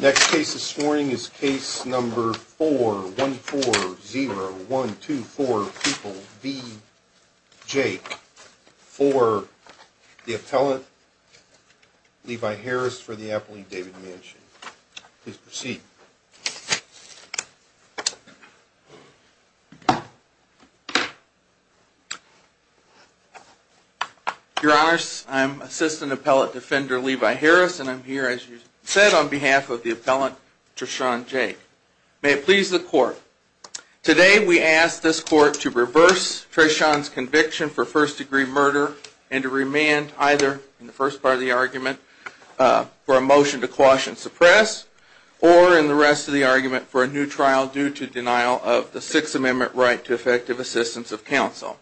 Next case this morning is case number 4140124 People v. Jake for the appellant Levi Harris for the appellate David Manchin. Please proceed. Your honors, I'm assistant appellate defender Levi Harris and I'm here as you said on behalf of the appellant Treshaun Jake. May it please the court. Today we ask this court to reverse Treshaun's conviction for first degree murder and to remand either in the first part of the argument for a motion to quash and suppress or in the rest of the argument for a new trial due to denial of the Sixth Amendment right to effective assistance of counsel.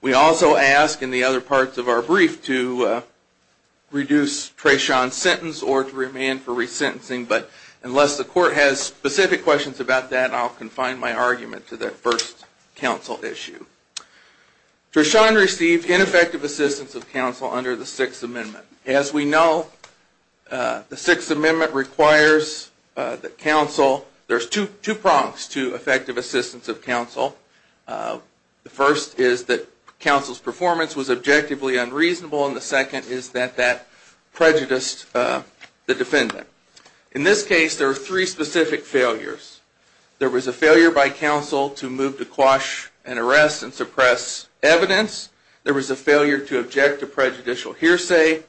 We also ask in the other parts of our brief to reduce Treshaun's sentence or to remand for resentencing but unless the court has specific questions about that I'll confine my argument to the first counsel issue. Treshaun received ineffective assistance of counsel under the Sixth Amendment. As we know, the Sixth Amendment requires that counsel, there's two prongs to effective assistance of counsel. The first is that counsel's performance was objectively unreasonable and the second is that that prejudiced the defendant. In this case there are three specific failures. There was a failure by counsel to move to quash and arrest and suppress evidence, there was a failure to object to prejudicial hearsay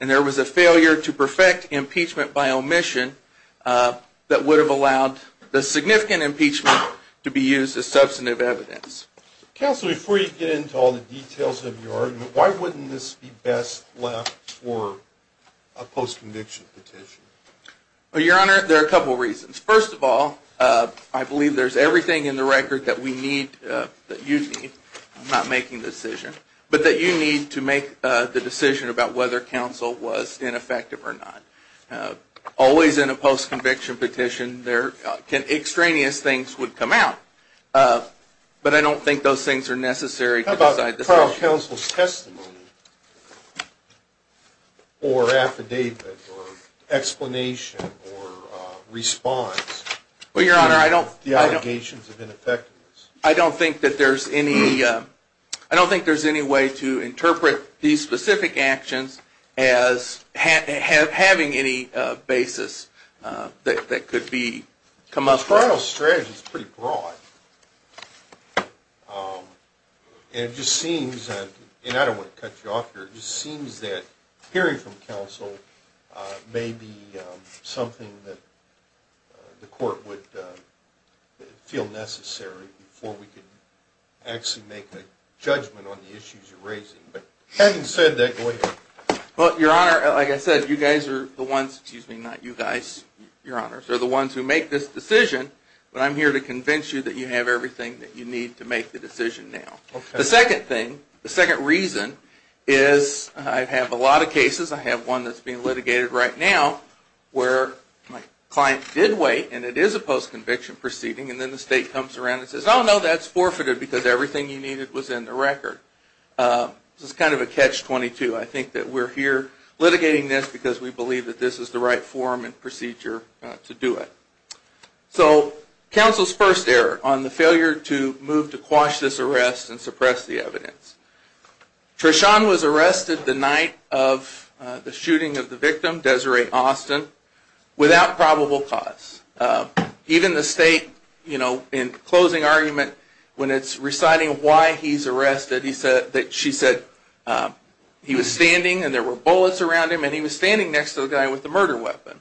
and there was a failure to perfect impeachment by omission that would have allowed the significant impeachment to be used as substantive evidence. Counsel, before you get into all the details of your argument, why wouldn't this be best left for a post-conviction petition? Your Honor, there are a couple of reasons. First of all, I believe there's everything in the record that we need, that you need, I'm not making the decision, but that you need to make the decision about whether counsel was ineffective or not. Always in a post-conviction petition, extraneous things would come out, but I don't think those things are necessary. How about trial counsel's testimony or affidavit or explanation or response to the allegations of ineffectiveness? I don't think there's any way to interpret these specific actions as having any basis that could be come up with. Well, the trial strategy is pretty broad, and it just seems that, and I don't want to cut you off here, it just seems that hearing from counsel may be something that the court would feel necessary before we could actually make a judgment on the issues you're raising. Having said that, go ahead. Well, Your Honor, like I said, you guys are the ones, excuse me, not you guys, Your Honors, are the ones who make this decision, but I'm here to convince you that you have everything that you need to make the decision now. The second thing, the second reason, is I have a lot of cases, I have one that's being litigated right now, where my client did wait, and it is a post-conviction proceeding, and then the state comes around and says, oh, no, that's forfeited because everything you needed was in the record. This is kind of a catch-22. I think that we're here litigating this because we believe that this is the right form and procedure to do it. So counsel's first error on the failure to move to quash this arrest and suppress the evidence. Treshawn was arrested the night of the shooting of the victim, Desiree Austin, without probable cause. Even the state, in closing argument, when it's reciting why he's arrested, she said he was standing and there were bullets around him, and he was standing next to the guy with the murder weapon.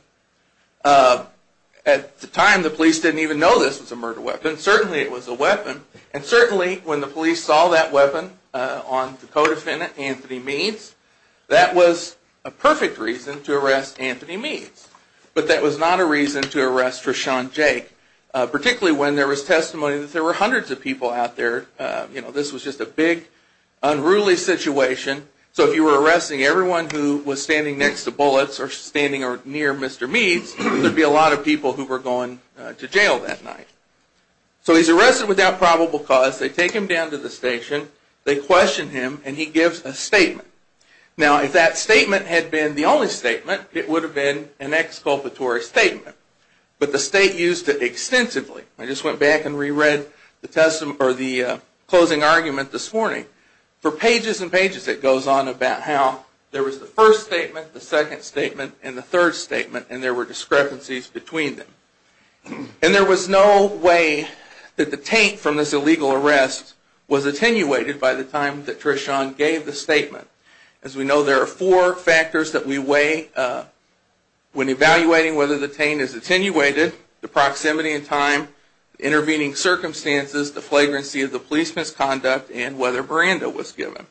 At the time, the police didn't even know this was a murder weapon. Certainly it was a weapon, and certainly when the police saw that weapon on the co-defendant, Anthony Meads, that was a perfect reason to arrest Anthony Meads. But that was not a reason to arrest Treshawn Jake, particularly when there was testimony that there were hundreds of people out there. This was just a big, unruly situation. So if you were arresting everyone who was standing next to bullets or standing near Mr. Meads, there would be a lot of people who were going to jail that night. So he's arrested without probable cause. They take him down to the station. They question him, and he gives a statement. Now if that statement had been the only statement, it would have been an exculpatory statement. But the state used it extensively. I just went back and re-read the closing argument this morning. For pages and pages it goes on about how there was the first statement, the second statement, and the third statement, and there were discrepancies between them. And there was no way that the taint from this illegal arrest was attenuated by the time that Treshawn gave the statement. As we know, there are four factors that we weigh when evaluating whether the taint is attenuated. The proximity in time, the intervening circumstances, the flagrancy of the police misconduct, and whether Miranda was given.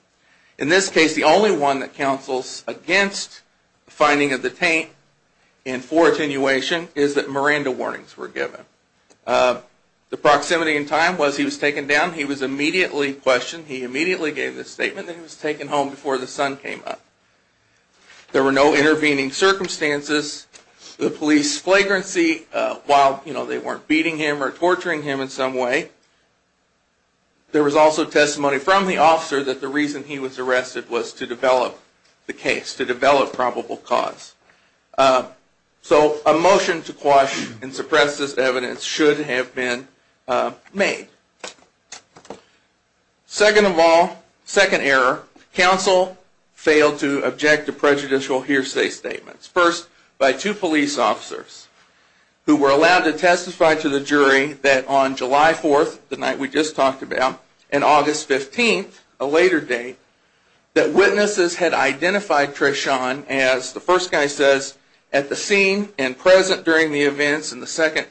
In this case, the only one that counsels against the finding of the taint and for attenuation is that Miranda warnings were given. The proximity in time was he was taken down, he was immediately questioned, he immediately gave the statement, and he was taken home before the sun came up. There were no intervening circumstances. The police flagrancy, while they weren't beating him or torturing him in some way, there was also testimony from the officer that the reason he was arrested was to develop the case, to develop probable cause. So a motion to quash and suppress this evidence should have been made. Second of all, second error, counsel failed to object to prejudicial hearsay statements. First, by two police officers who were allowed to testify to the jury that on July 4th, the night we just talked about, and August 15th, a later date, that witnesses had identified Treshawn as, the first guy says, at the scene and present during the events, and the second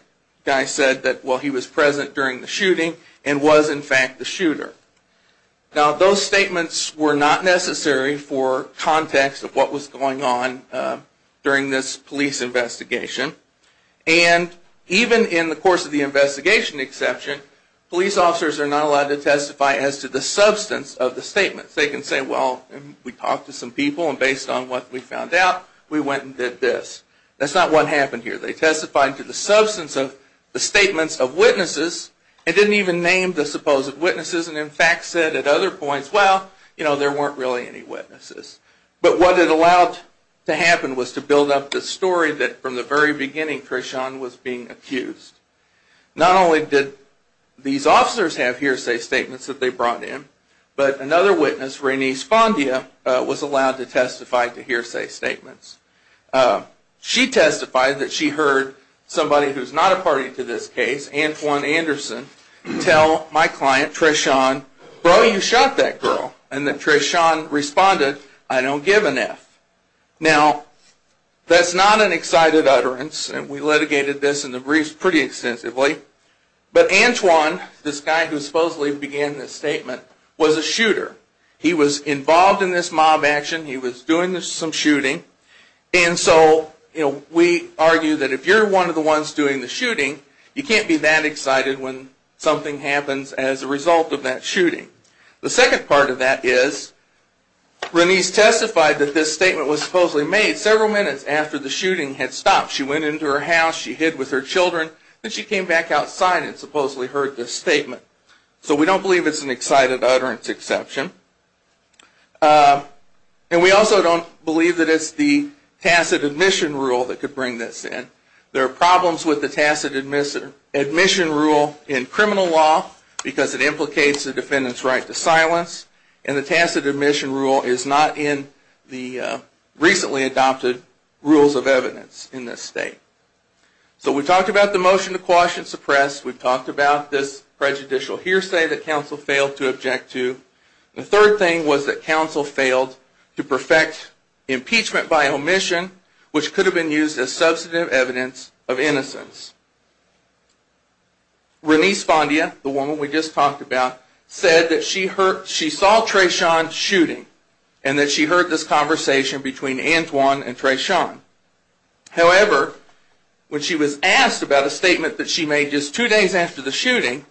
guy said that, well, he was present during the shooting and was, in fact, the shooter. Now, those statements were not necessary for context of what was going on during this police investigation, and even in the course of the investigation exception, police officers are not allowed to testify as to the substance of the statements. They can say, well, we talked to some people, and based on what we found out, we went and did this. That's not what happened here. They testified to the substance of the statements of witnesses, and didn't even name the supposed witnesses, and in fact said at other points, well, you know, there weren't really any witnesses. But what it allowed to happen was to build up the story that from the very beginning Treshawn was being accused. Not only did these officers have hearsay statements that they brought in, but another witness, Renee Spondia, was allowed to testify to hearsay statements. She testified that she heard somebody who's not a party to this case, Antoine Anderson, tell my client Treshawn, bro, you shot that girl, and that Treshawn responded, I don't give an F. Now, that's not an excited utterance, and we litigated this in the briefs pretty extensively, but Antoine, this guy who supposedly began this statement, was a shooter. He was involved in this mob action. He was doing some shooting, and so we argue that if you're one of the ones doing the shooting, you can't be that excited when something happens as a result of that shooting. The second part of that is Renee's testified that this statement was supposedly made several minutes after the shooting had stopped. She went into her house. She hid with her children. Then she came back outside and supposedly heard this statement. So we don't believe it's an excited utterance exception, and we also don't believe that it's the tacit admission rule that could bring this in. There are problems with the tacit admission rule in criminal law, because it implicates the defendant's right to silence, and the tacit admission rule is not in the recently adopted rules of evidence in this state. So we talked about the motion to quash and suppress. We've talked about this prejudicial hearsay that counsel failed to object to. The third thing was that counsel failed to perfect impeachment by omission, which could have been used as substantive evidence of innocence. Renee Spondia, the woman we just talked about, said that she saw Treshawn shooting, and that she heard this conversation between Antoine and Treshawn. However, when she was asked about a statement that she made just two days after the shooting,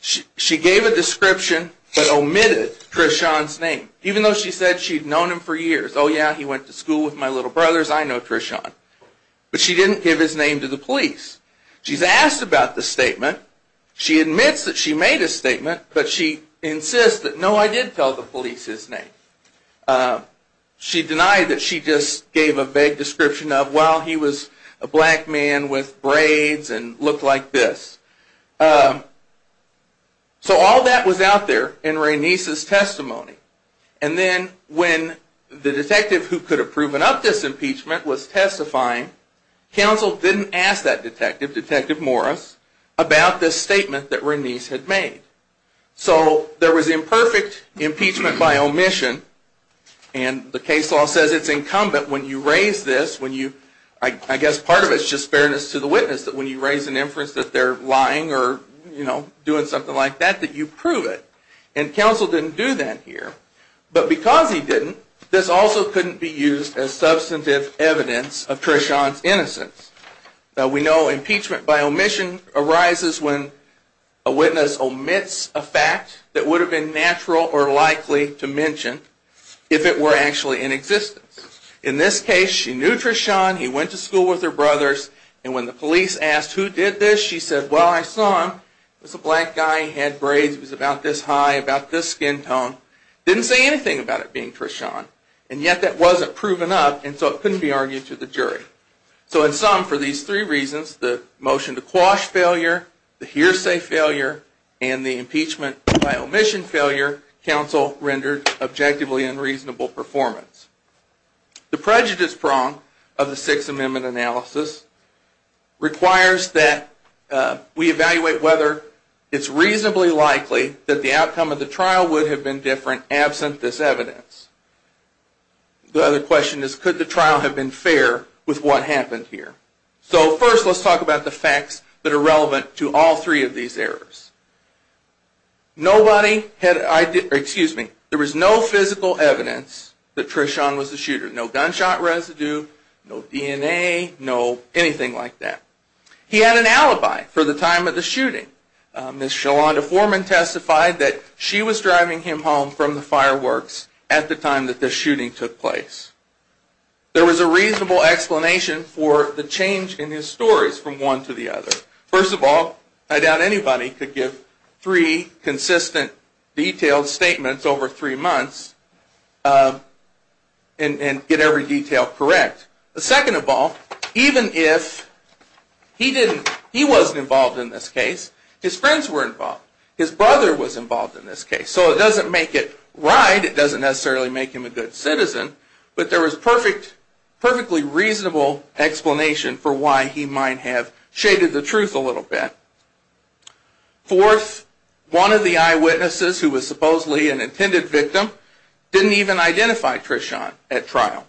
she gave a description but omitted Treshawn's name, even though she said she'd known him for years. Oh yeah, he went to school with my little brothers. I know Treshawn. But she didn't give his name to the police. She's asked about the statement. She admits that she made a statement, but she insists that no, I did tell the police his name. She denied that she just gave a vague description of, well, he was a black man with braids and looked like this. So all that was out there in Renee's testimony. And then when the detective who could have proven up this impeachment was testifying, counsel didn't ask that detective, Detective Morris, about this statement that Renee had made. So there was imperfect impeachment by omission, and the case law says it's incumbent when you raise this, I guess part of it is just fairness to the witness, that when you raise an inference that they're lying or doing something like that, that you prove it. And counsel didn't do that here. But because he didn't, this also couldn't be used as substantive evidence of Treshawn's innocence. Now we know impeachment by omission arises when a witness omits a fact that would have been natural or likely to mention if it were actually in existence. In this case, she knew Treshawn, he went to school with her brothers, and when the police asked who did this, she said, well, I saw him, he was a black guy, he had braids, he was about this high, about this skin tone, didn't say anything about it being Treshawn. And yet that wasn't proven up, and so it couldn't be argued to the jury. So in sum, for these three reasons, the motion to quash failure, the hearsay failure, and the impeachment by omission failure, counsel rendered objectively unreasonable performance. The prejudice prong of the Sixth Amendment analysis requires that we evaluate whether it's reasonably likely that the outcome of the trial would have been different absent this evidence. The other question is, could the trial have been fair with what happened here? So first let's talk about the facts that are relevant to all three of these errors. There was no physical evidence that Treshawn was the shooter. No gunshot residue, no DNA, no anything like that. He had an alibi for the time of the shooting. Ms. Shalonda Foreman testified that she was driving him home from the fireworks at the time that the shooting took place. There was a reasonable explanation for the change in his stories from one to the other. First of all, I doubt anybody could give three consistent detailed statements over three months and get every detail correct. Second of all, even if he wasn't involved in this case, his friends were involved. His brother was involved in this case. So it doesn't make it right, it doesn't necessarily make him a good citizen, but there was a perfectly reasonable explanation for why he might have shaded the truth a little bit. Fourth, one of the eyewitnesses who was supposedly an intended victim didn't even identify Treshawn at trial.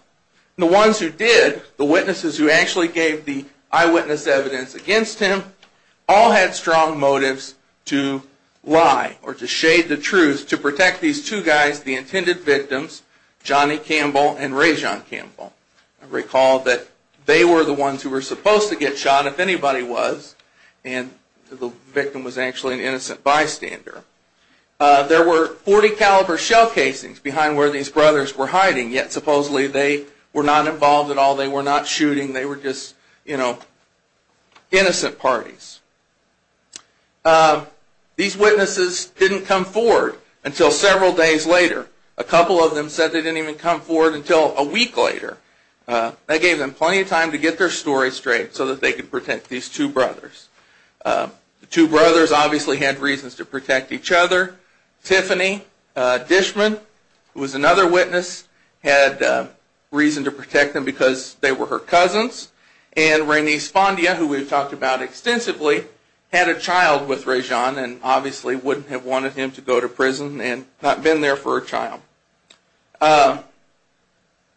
The ones who did, the witnesses who actually gave the eyewitness evidence against him, all had strong motives to lie or to shade the truth to protect these two guys, the intended victims, Johnny Campbell and Rejon Campbell. Recall that they were the ones who were supposed to get shot if anybody was, and the victim was actually an innocent bystander. There were .40 caliber shell casings behind where these brothers were hiding, yet supposedly they were not involved at all, they were not shooting, they were just innocent parties. These witnesses didn't come forward until several days later. A couple of them said they didn't even come forward until a week later. That gave them plenty of time to get their story straight so that they could protect these two brothers. The two brothers obviously had reasons to protect each other. Tiffany Dishman, who was another witness, had reason to protect them because they were her cousins. And Rene Spondia, who we've talked about extensively, had a child with Rejon and obviously wouldn't have wanted him to go to prison and not been there for a child.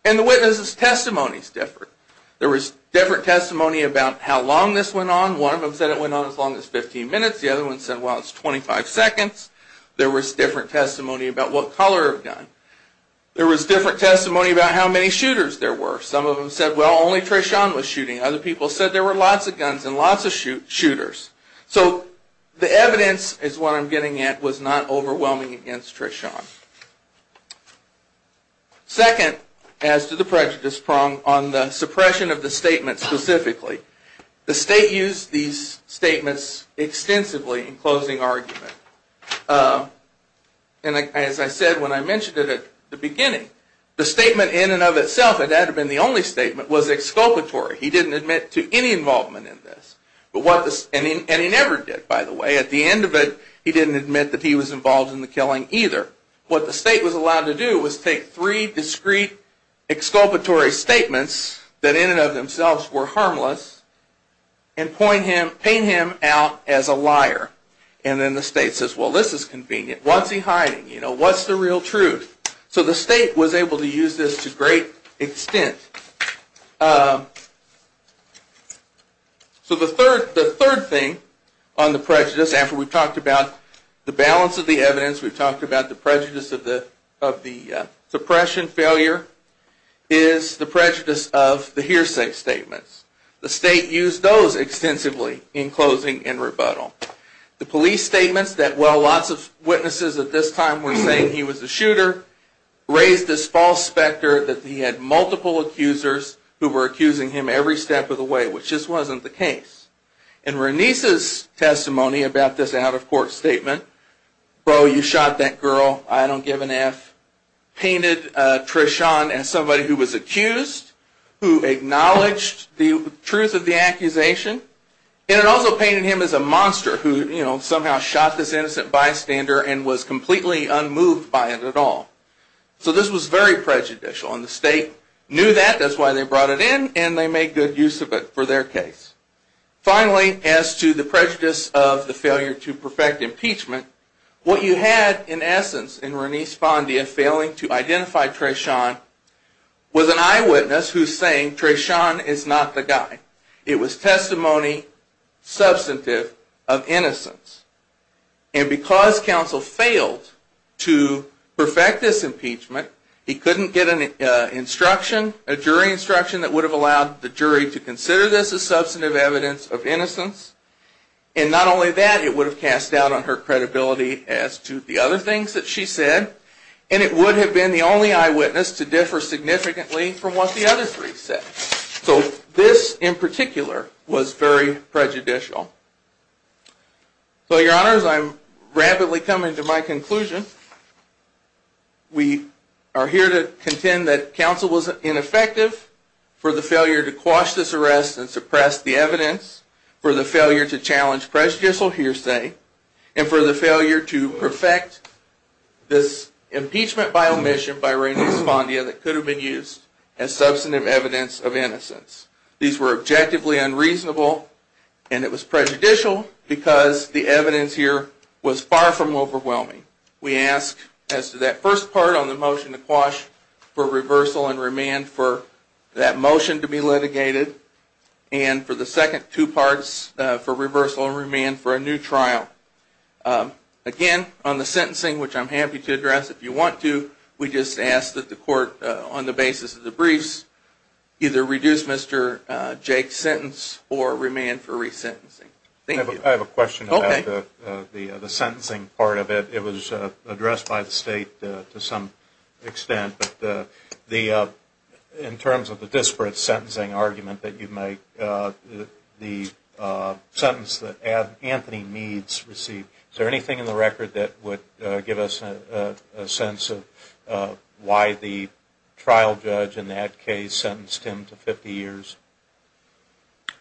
And the witnesses' testimonies differed. There was different testimony about how long this went on. One of them said it went on as long as 15 minutes, the other one said, well, it's 25 seconds. There was different testimony about what color of gun. There was different testimony about how many shooters there were. Some of them said, well, only Treshawn was shooting. Other people said there were lots of guns and lots of shooters. So the evidence, is what I'm getting at, was not overwhelming against Treshawn. Second, as to the prejudice prong on the suppression of the statement specifically, the state used these statements extensively in closing argument. And as I said when I mentioned it at the beginning, the statement in and of itself, it had to have been the only statement, was exculpatory. He didn't admit to any involvement in this. And he never did, by the way. At the end of it, he didn't admit that he was involved in the killing either. What the state was allowed to do was take three discrete exculpatory statements that in and of themselves were harmless and paint him out as a liar. And then the state says, well, this is convenient. What's he hiding? What's the real truth? So the state was able to use this to great extent. So the third thing on the prejudice, after we've talked about the balance of the evidence, we've talked about the prejudice of the suppression failure, is the prejudice of the hearsay statements. The state used those extensively in closing and rebuttal. The police statements that while lots of witnesses at this time were saying he was a shooter, raised this false specter that he had multiple accusers who were accusing him every step of the way, which just wasn't the case. And Renice's testimony about this out-of-court statement, bro, you shot that girl, I don't give an F, painted Treshawn as somebody who was accused, who acknowledged the truth of the accusation, and it also painted him as a monster who somehow shot this innocent bystander and was completely unmoved by it at all. So this was very prejudicial, and the state knew that, that's why they brought it in, and they made good use of it for their case. Finally, as to the prejudice of the failure to perfect impeachment, what you had in essence in Renice Fondia failing to identify Treshawn was an eyewitness who's saying Treshawn is not the guy. It was testimony substantive of innocence. And because counsel failed to perfect this impeachment, he couldn't get an instruction, a jury instruction, that would have allowed the jury to consider this as substantive evidence of innocence, and not only that, it would have cast doubt on her credibility as to the other things that she said, and it would have been the only eyewitness to differ significantly from what the other three said. So this in particular was very prejudicial. So your honors, I'm rapidly coming to my conclusion. We are here to contend that counsel was ineffective for the failure to quash this arrest and suppress the evidence, for the failure to challenge prejudicial hearsay, and for the failure to perfect this impeachment by omission by Renice Fondia that could have been used as substantive evidence of innocence. These were objectively unreasonable and it was prejudicial because the evidence here was far from overwhelming. We ask as to that first part on the motion to quash for reversal and remand for that motion to be litigated, and for the second two parts for reversal and remand for a new trial. Again, on the sentencing, which I'm happy to address if you want to, we just ask that the court, on the basis of the briefs, either reduce Mr. Jake's sentence or remand for resentencing. Thank you. I have a question about the sentencing part of it. It was addressed by the state to some extent, but in terms of the disparate sentencing argument that you make, the sentence that Anthony Meads received, is there anything in the record that would give us a sense of why the trial judge in that case sentenced him to 50 years?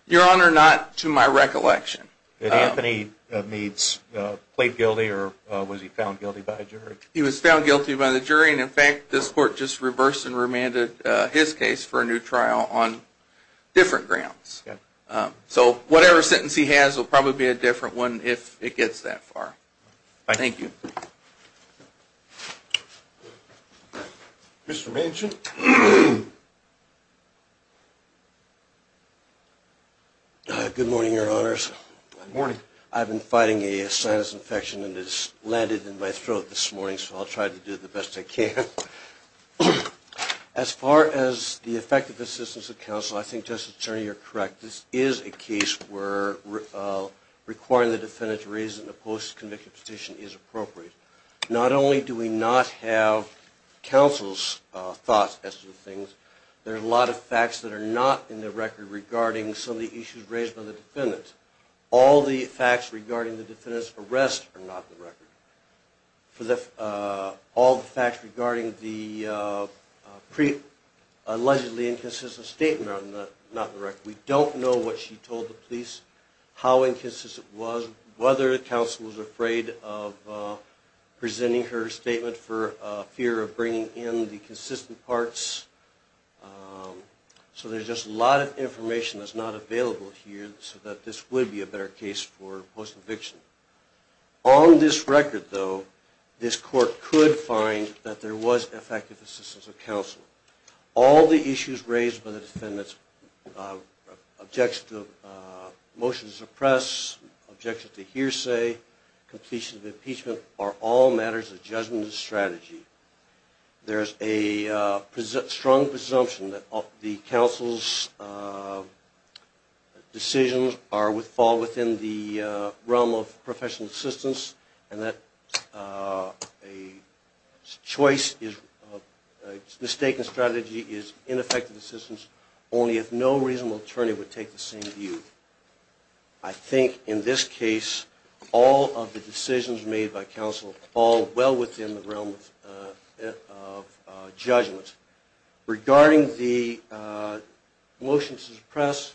Your Honor, not to my recollection. Did Anthony Meads plead guilty or was he found guilty by a jury? He was found guilty by the jury, and in fact, this court did not court just reversed and remanded his case for a new trial on different grounds. So whatever sentence he has will probably be a different one if it gets that far. Thank you. Mr. Manchin. Good morning, Your Honors. Good morning. I've been fighting a sinus infection and it's landed in my throat this morning, so I'll try to do the best I can. As far as the effective assistance of counsel, I think, Justice Attorney, you're correct. This is a case where requiring the defendant to raise a post-conviction petition is appropriate. Not only do we not have counsel's thoughts as to things, there are a lot of facts that are not in the record regarding some of the issues raised by the defendant. All the facts regarding the allegedly inconsistent statement are not in the record. We don't know what she told the police, how inconsistent it was, whether counsel was afraid of presenting her statement for fear of bringing in the consistent parts. So there's just a lot of information that's not available here so that this would be a better case for post-conviction. On this record, though, this court could find that there was effective assistance of counsel. All the issues raised by the defendant's objection to motion to suppress, objection to hearsay, completion of impeachment are all matters of judgment and strategy. There's a strong presumption that the counsel's decisions are would fall within the realm of professional assistance and that a choice is a mistaken strategy is ineffective assistance only if no reasonable attorney would take the same view. I think in this case, all of the decisions made by counsel fall well within the realm of judgment. Regarding the motion to suppress,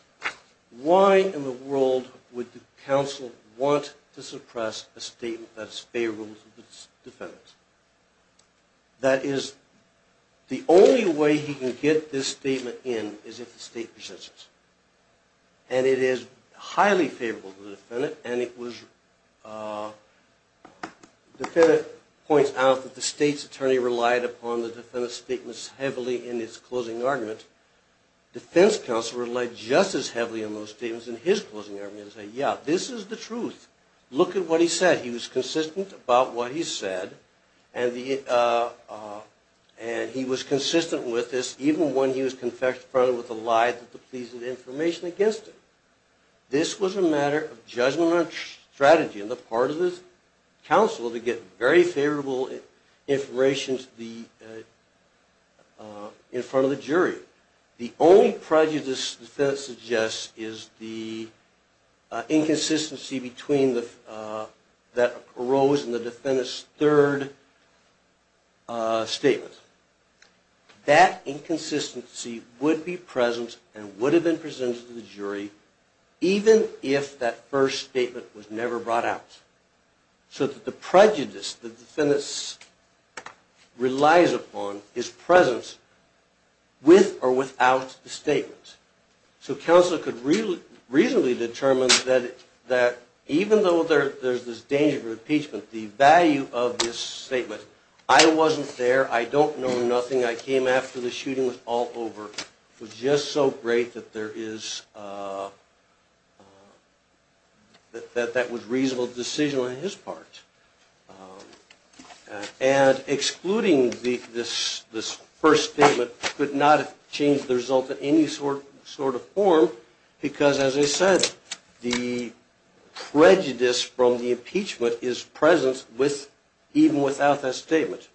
why in the world would the counsel want to suppress a statement that is favorable to the defendant? That is, the only way he can get this statement in is if the state persists. And it is highly favorable to the defendant and it was the defendant points out that the state's attorney relied upon the defendant's statements heavily in his closing argument. The defense counsel relied just as heavily on those statements in his closing argument and said, yeah, this is the truth. Look at what he said. He was consistent about what he said and he was consistent with this even when he was confronted with a lie that depleted information against him. This was a matter of judgment and strategy on the part of the counsel to get very favorable information in front of the jury. The only prejudice the defendant suggests is the inconsistency that arose in the defendant's third statement. That inconsistency would be present and would have been presented to the jury even if that first statement was never brought out. So that the prejudice the defendant relies upon is present with or without the statement. So counsel could reasonably determine that even though there's this danger of impeachment, the value of this statement I wasn't there, I don't know nothing, I came after the shooting was all over, was just so great that there is a reasonable decision on his part. And excluding this first statement could not have changed the result in any sort of form because as I said the prejudice from the impeachment is present even without that statement.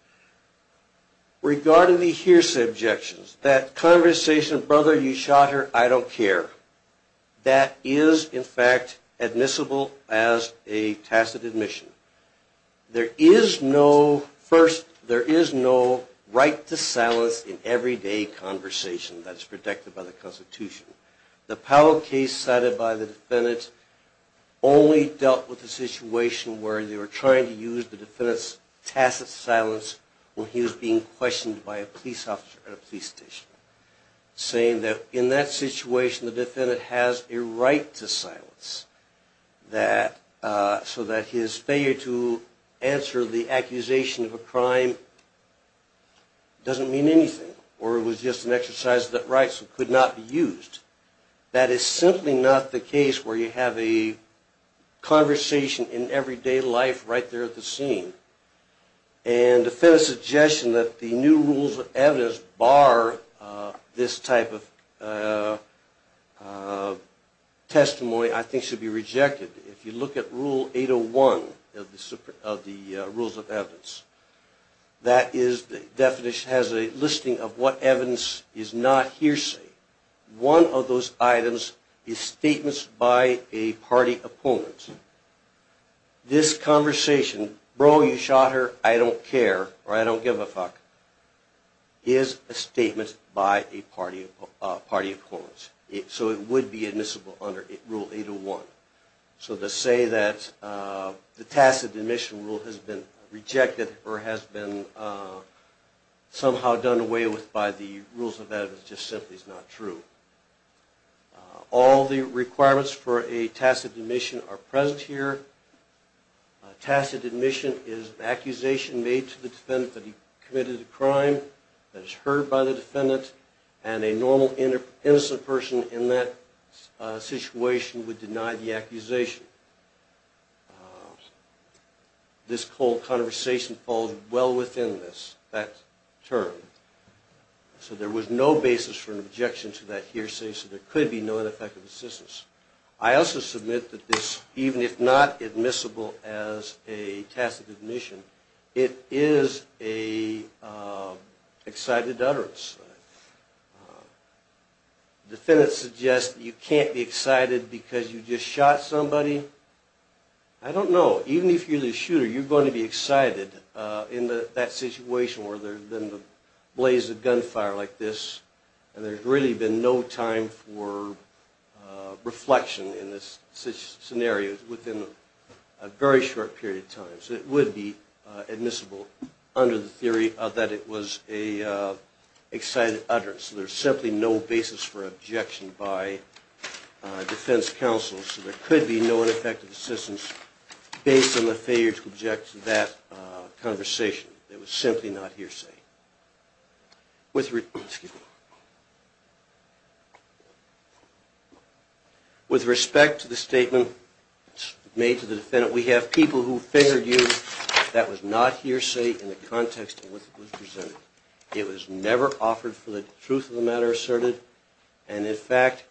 Regarding the hearsay objections, that conversation, brother you shot her, I don't care, that is in fact admissible as a tacit admission. There is no first, there is no right to silence in everyday conversation that is protected by the Constitution. The Powell case cited by the defendant only dealt with the situation where they were trying to use the defendant's tacit silence when he was being questioned by a police officer at a police station. Saying that in that situation the defendant has a right to silence so that his failure to answer the accusation of a crime doesn't mean anything or it was just an exercise of that right so it could not be used. That is simply not the case where you have a conversation in everyday life right there at the scene. And the defendant's suggestion that the new rules of evidence bar this type of testimony I think should be rejected. If you look at rule 801 of the rules of evidence, that is the definition has a listing of what evidence is not hearsay. One of those items is statements by a party opponent. This conversation, bro you shot her, I don't care or I don't give a fuck is a statement by a party opponent. So it would be admissible under rule 801. So to say that the tacit admission rule has been rejected or has been somehow done away with by the rules of evidence just simply is not true. All the requirements for a tacit admission are present here. A tacit admission is an accusation made to the defendant that he committed a crime that is heard by the defendant and a normal innocent person in that situation would deny the accusation. This whole conversation falls well within this term. So there was no basis for an objection to that hearsay so there could be no ineffective assistance. I also submit that this, even if not admissible as a tacit admission, it is a excited utterance. Defendants suggest that you can't be excited because you just shot somebody. I don't know, even if you're the shooter you're going to be excited in that situation where there's been the blaze of gunfire like this and there's really been no time for reflection in this scenario within a very short period of time. So it would be admissible under the theory that it was an excited utterance. There's simply no basis for objection by defense counsel so there could be no ineffective assistance based on the failure to object to that conversation. It was simply not hearsay. With respect to the statement made to the defendant, we have people who figured out for you that was not hearsay in the context in which it was presented. It was never offered for the truth of the matter asserted and in fact,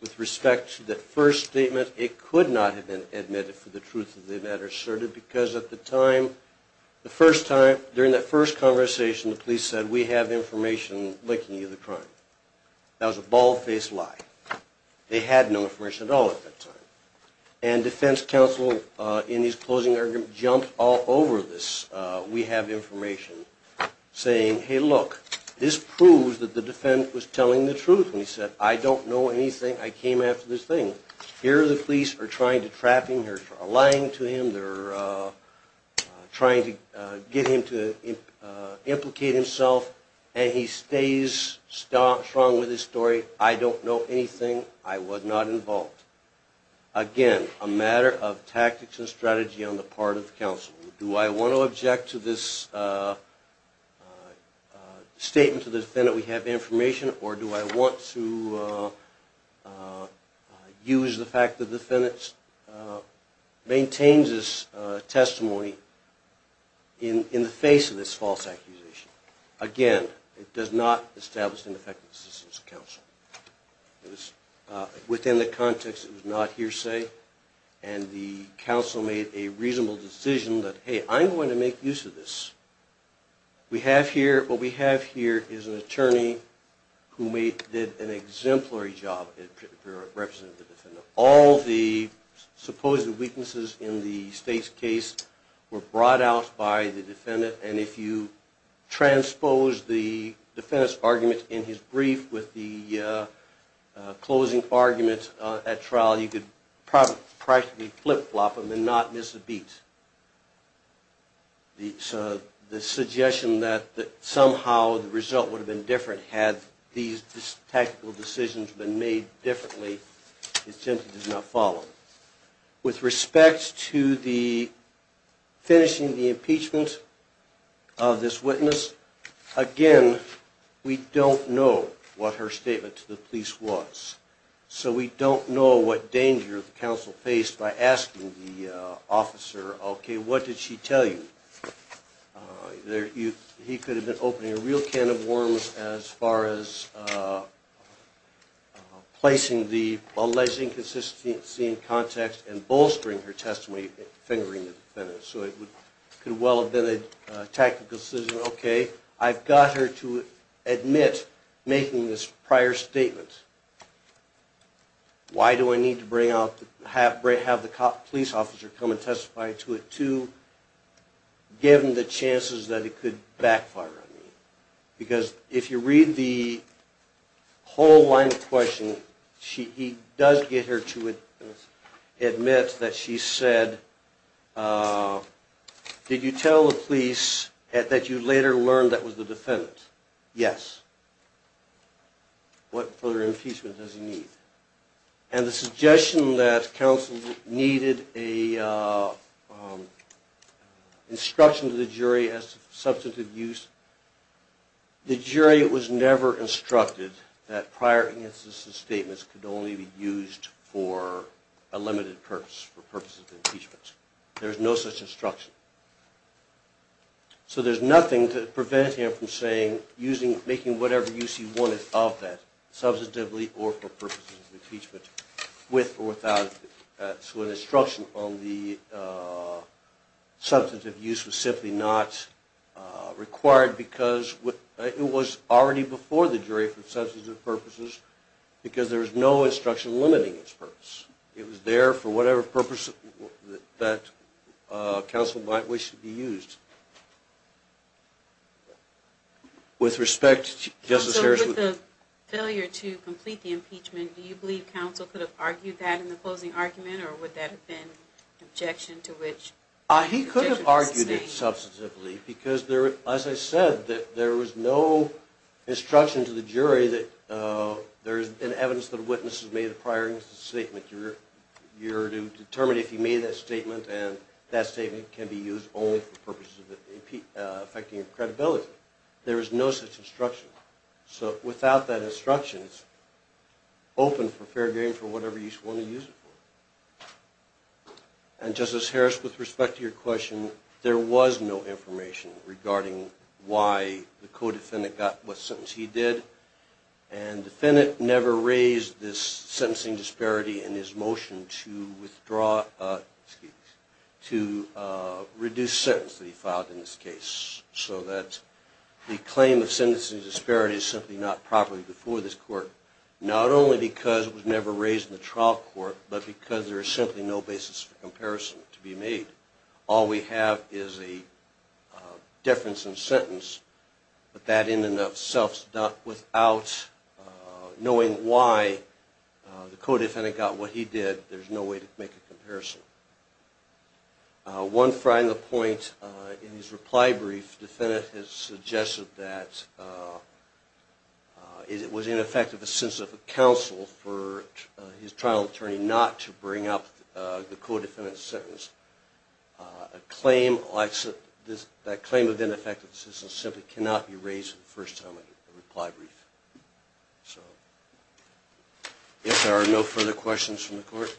with respect to that first statement, it could not have been admitted for the truth of the matter asserted because at the time during that first conversation the police said we have information linking you to the crime. That was a bald-faced lie. They had no information at all at that time. And defense counsel in his closing argument jumped all over this. We have information saying hey look, this proves that the defendant was telling the truth when he said I don't know anything. I came after this thing. Here the police are trying to trap him. They're lying to him. They're trying to get him to implicate himself and he stays strong with his story. I don't know anything. I was not involved. Again, a matter of tactics and strategy on the part of counsel. Do I want to object to this statement to the defendant we have information or do I want to use the fact that the defendant maintains his testimony in the face of this false accusation? Again, it does not establish an effective assistance to counsel. Within the context it was not hearsay and the counsel made a reasonable decision that hey, I'm going to make use of this. What we have here is an attorney who did an exemplary job representing the defendant. All the supposed weaknesses in the state's case were brought out by the defendant and if you transpose the defendant's argument in his closing argument at trial you could practically flip-flop him and not miss a beat. The suggestion that somehow the result would have been different had these tactical decisions been made differently it simply did not follow. With respect to the finishing the impeachment of this witness, again, we don't know what her statement to the police was. So we don't know what danger counsel faced by asking the officer okay, what did she tell you? He could have been opening a real can of worms as far as placing the alleged inconsistency in context and bolstering her testimony and fingering the defendant. It could well have been a tactical decision, okay, I've got her to admit making this prior statement. Why do I need to have the police officer come and testify to it too given the chances that it could backfire on me? Because if you read the whole line of questioning he does get her to admit that she said did you tell the police that you later learned that was the defendant? Yes. What further impeachment does he need? And the suggestion that counsel needed a instruction to the jury as to substantive use the jury was never instructed that prior inconsistent statements could only be used for a limited purpose, for purposes of impeachment. There's no such instruction. So there's nothing to prevent him from saying making whatever use he wanted of that, substantively or for purposes of impeachment, with or without it. So an instruction on the substantive use was simply not required because it was already before the jury for substantive purposes because there was no instruction limiting its purpose. It was there for whatever purpose that counsel might wish to be used. With respect to Justice Harris. With the failure to complete the impeachment, do you believe counsel could have argued that in the closing argument or would that have been objection to which? He could have argued it substantively because as I said, there was no instruction to the jury that there's been evidence that a witness has made a prior inconsistent statement. You're to determine if you made that statement and that statement can be used only for purposes of credibility. There is no such instruction. So without that instruction, it's open for fair game for whatever use you want to use it for. And Justice Harris, with respect to your question, there was no information regarding why the co-defendant got what sentence he did and the defendant never raised this sentencing disparity in his motion to withdraw, excuse me, to reduce sentence that he filed in this case. So that the claim of sentencing disparity is simply not properly before this court. Not only because it was never raised in the trial court, but because there is simply no basis for comparison to be made. All we have is a difference in sentence, but that in and of itself is without knowing why the co-defendant got what he did, there's no way to make a comparison. One final point in his reply brief, the defendant has suggested that it was ineffective assistance of counsel for his trial attorney not to bring up the co-defendant's sentence. That claim of ineffective assistance simply cannot be believed. If there are no further questions from the court,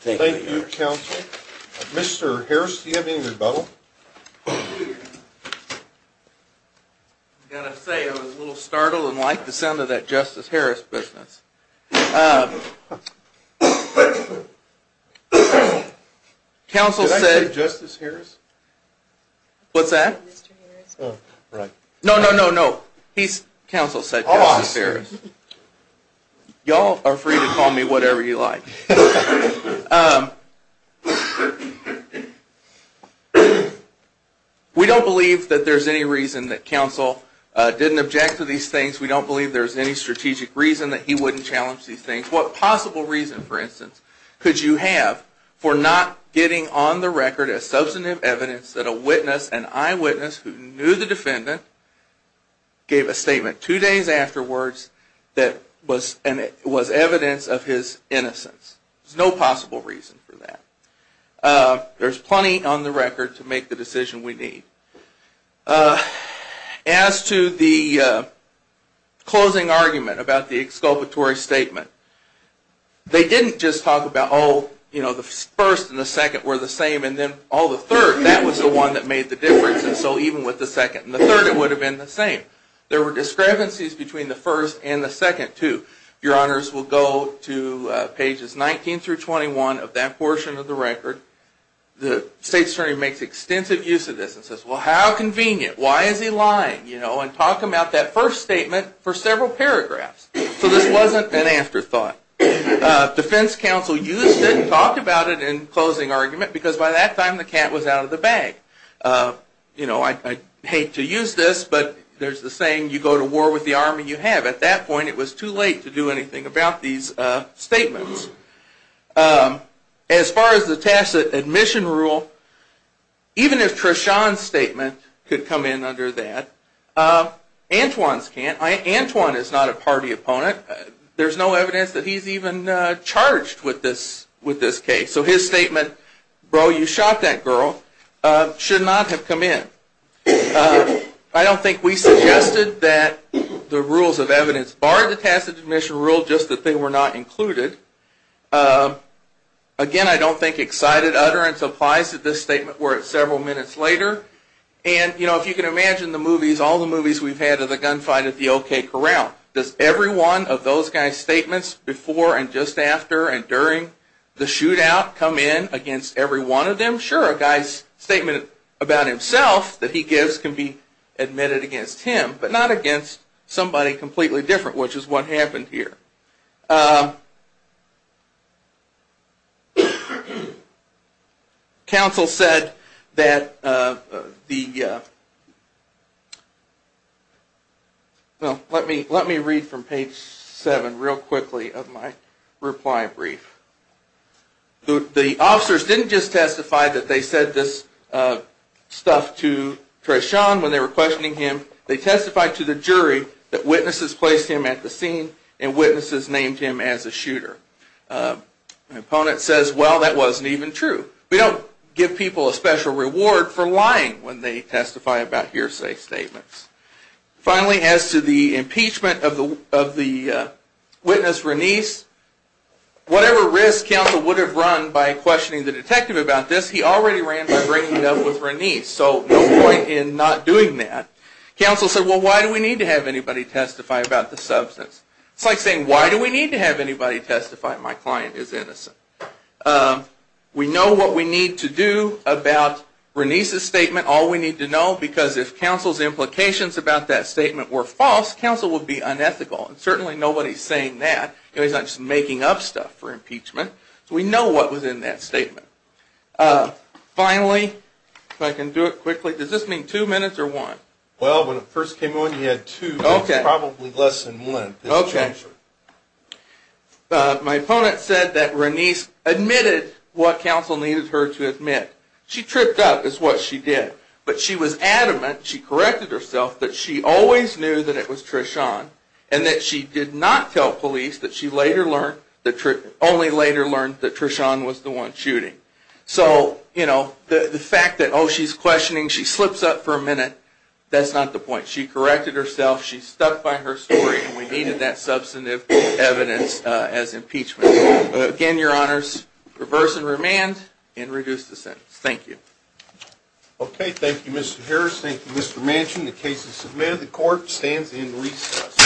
thank you. Thank you, counsel. Mr. Harris, do you have any rebuttal? I've got to say, I was a little startled and liked the sound of that Justice Harris business. Did I say Justice Harris? What's that? No, no, no, no. He's counsel said Justice Harris. Y'all are free to call me whatever you like. We don't believe that there's any reason that counsel didn't object to these things. We don't believe there's any strategic reason that he wouldn't challenge these things. What possible reason, for instance, could you have for not getting on the record a substantive evidence that a witness, an eyewitness who knew the defendant gave a statement two days afterwards that was evidence of his innocence? There's no possible reason for that. There's plenty on the record to make the decision we need. As to the closing argument about the exculpatory statement, they didn't just talk about, oh, the first and the second were the same, and then all the third, that was the one that made the difference, and so even with the second and the third, it would have been the same. There were discrepancies between the first and the second, too. Your Honors, we'll go to pages 19 through 21 of that portion of the record. State's attorney makes extensive use of this and says, well, how convenient. Why is he lying? And talk about that first statement for several paragraphs. So this wasn't an afterthought. Defense counsel used it and talked about it in closing argument because by that time the cat was out of the bag. You know, I'd hate to use this, but there's the saying, you go to war with the army you have. At that point, it was too late to do anything about these statements. As far as the tacit admission rule, even if Treshawn's statement could come in under that, Antwon's can't. Antwon is not a party opponent. There's no evidence that he's even charged with this case. So his statement, bro, you shot that girl, should not have come in. I don't think we suggested that the rules of evidence bar the tacit admission rule, just that they were not included. Again, I don't think excited utterance applies to this statement where it's several minutes later. And, you know, if you can imagine the movies, all the movies we've had of the gunfight at the O.K. Corral. Does every one of those guys' statements before and just after and during the shootout come in against every one of them? Sure, a guy's statement about himself that he gives can be admitted against him, but not against somebody completely different, which is what happened here. Counsel said that the... Well, let me read from page 7 real quickly of my reply brief. The officers didn't just testify that they said this stuff to Treshawn when they were questioning him. They testified to the jury that witnesses placed him at the scene and witnesses named him as a shooter. The opponent says, well, that wasn't even true. We don't give people a special reward for lying when they testify about hearsay statements. Finally, as to the impeachment of the witness, Renice, whatever risk counsel would have run by questioning the detective about this, he already ran by breaking up with Renice, so no point in not doing that. Counsel said, well, why do we need to have anybody testify about the substance? It's like saying, why do we need to have anybody testify? My client is innocent. We know what we need to do about this, because if counsel's implications about that statement were false, counsel would be unethical, and certainly nobody's saying that. He's not just making up stuff for impeachment. So we know what was in that statement. Finally, if I can do it quickly, does this mean two minutes or one? Well, when it first came on, you had two, but it's probably less than one. Okay. My opponent said that Renice admitted what counsel needed her to admit. She tripped up, is what she did. But she was adamant, she corrected herself, that she always knew that it was Treshawn, and that she did not tell police that she only later learned that Treshawn was the one shooting. So the fact that, oh, she's questioning, she slips up for a minute, that's not the point. She corrected herself, she stuck by her story, and we needed that substantive evidence as impeachment. Again, your honors, reverse and remand, and you're dismissed. Okay. Thank you, Mr. Harris. Thank you, Mr. Manchin. The case is submitted. The court stands in recess.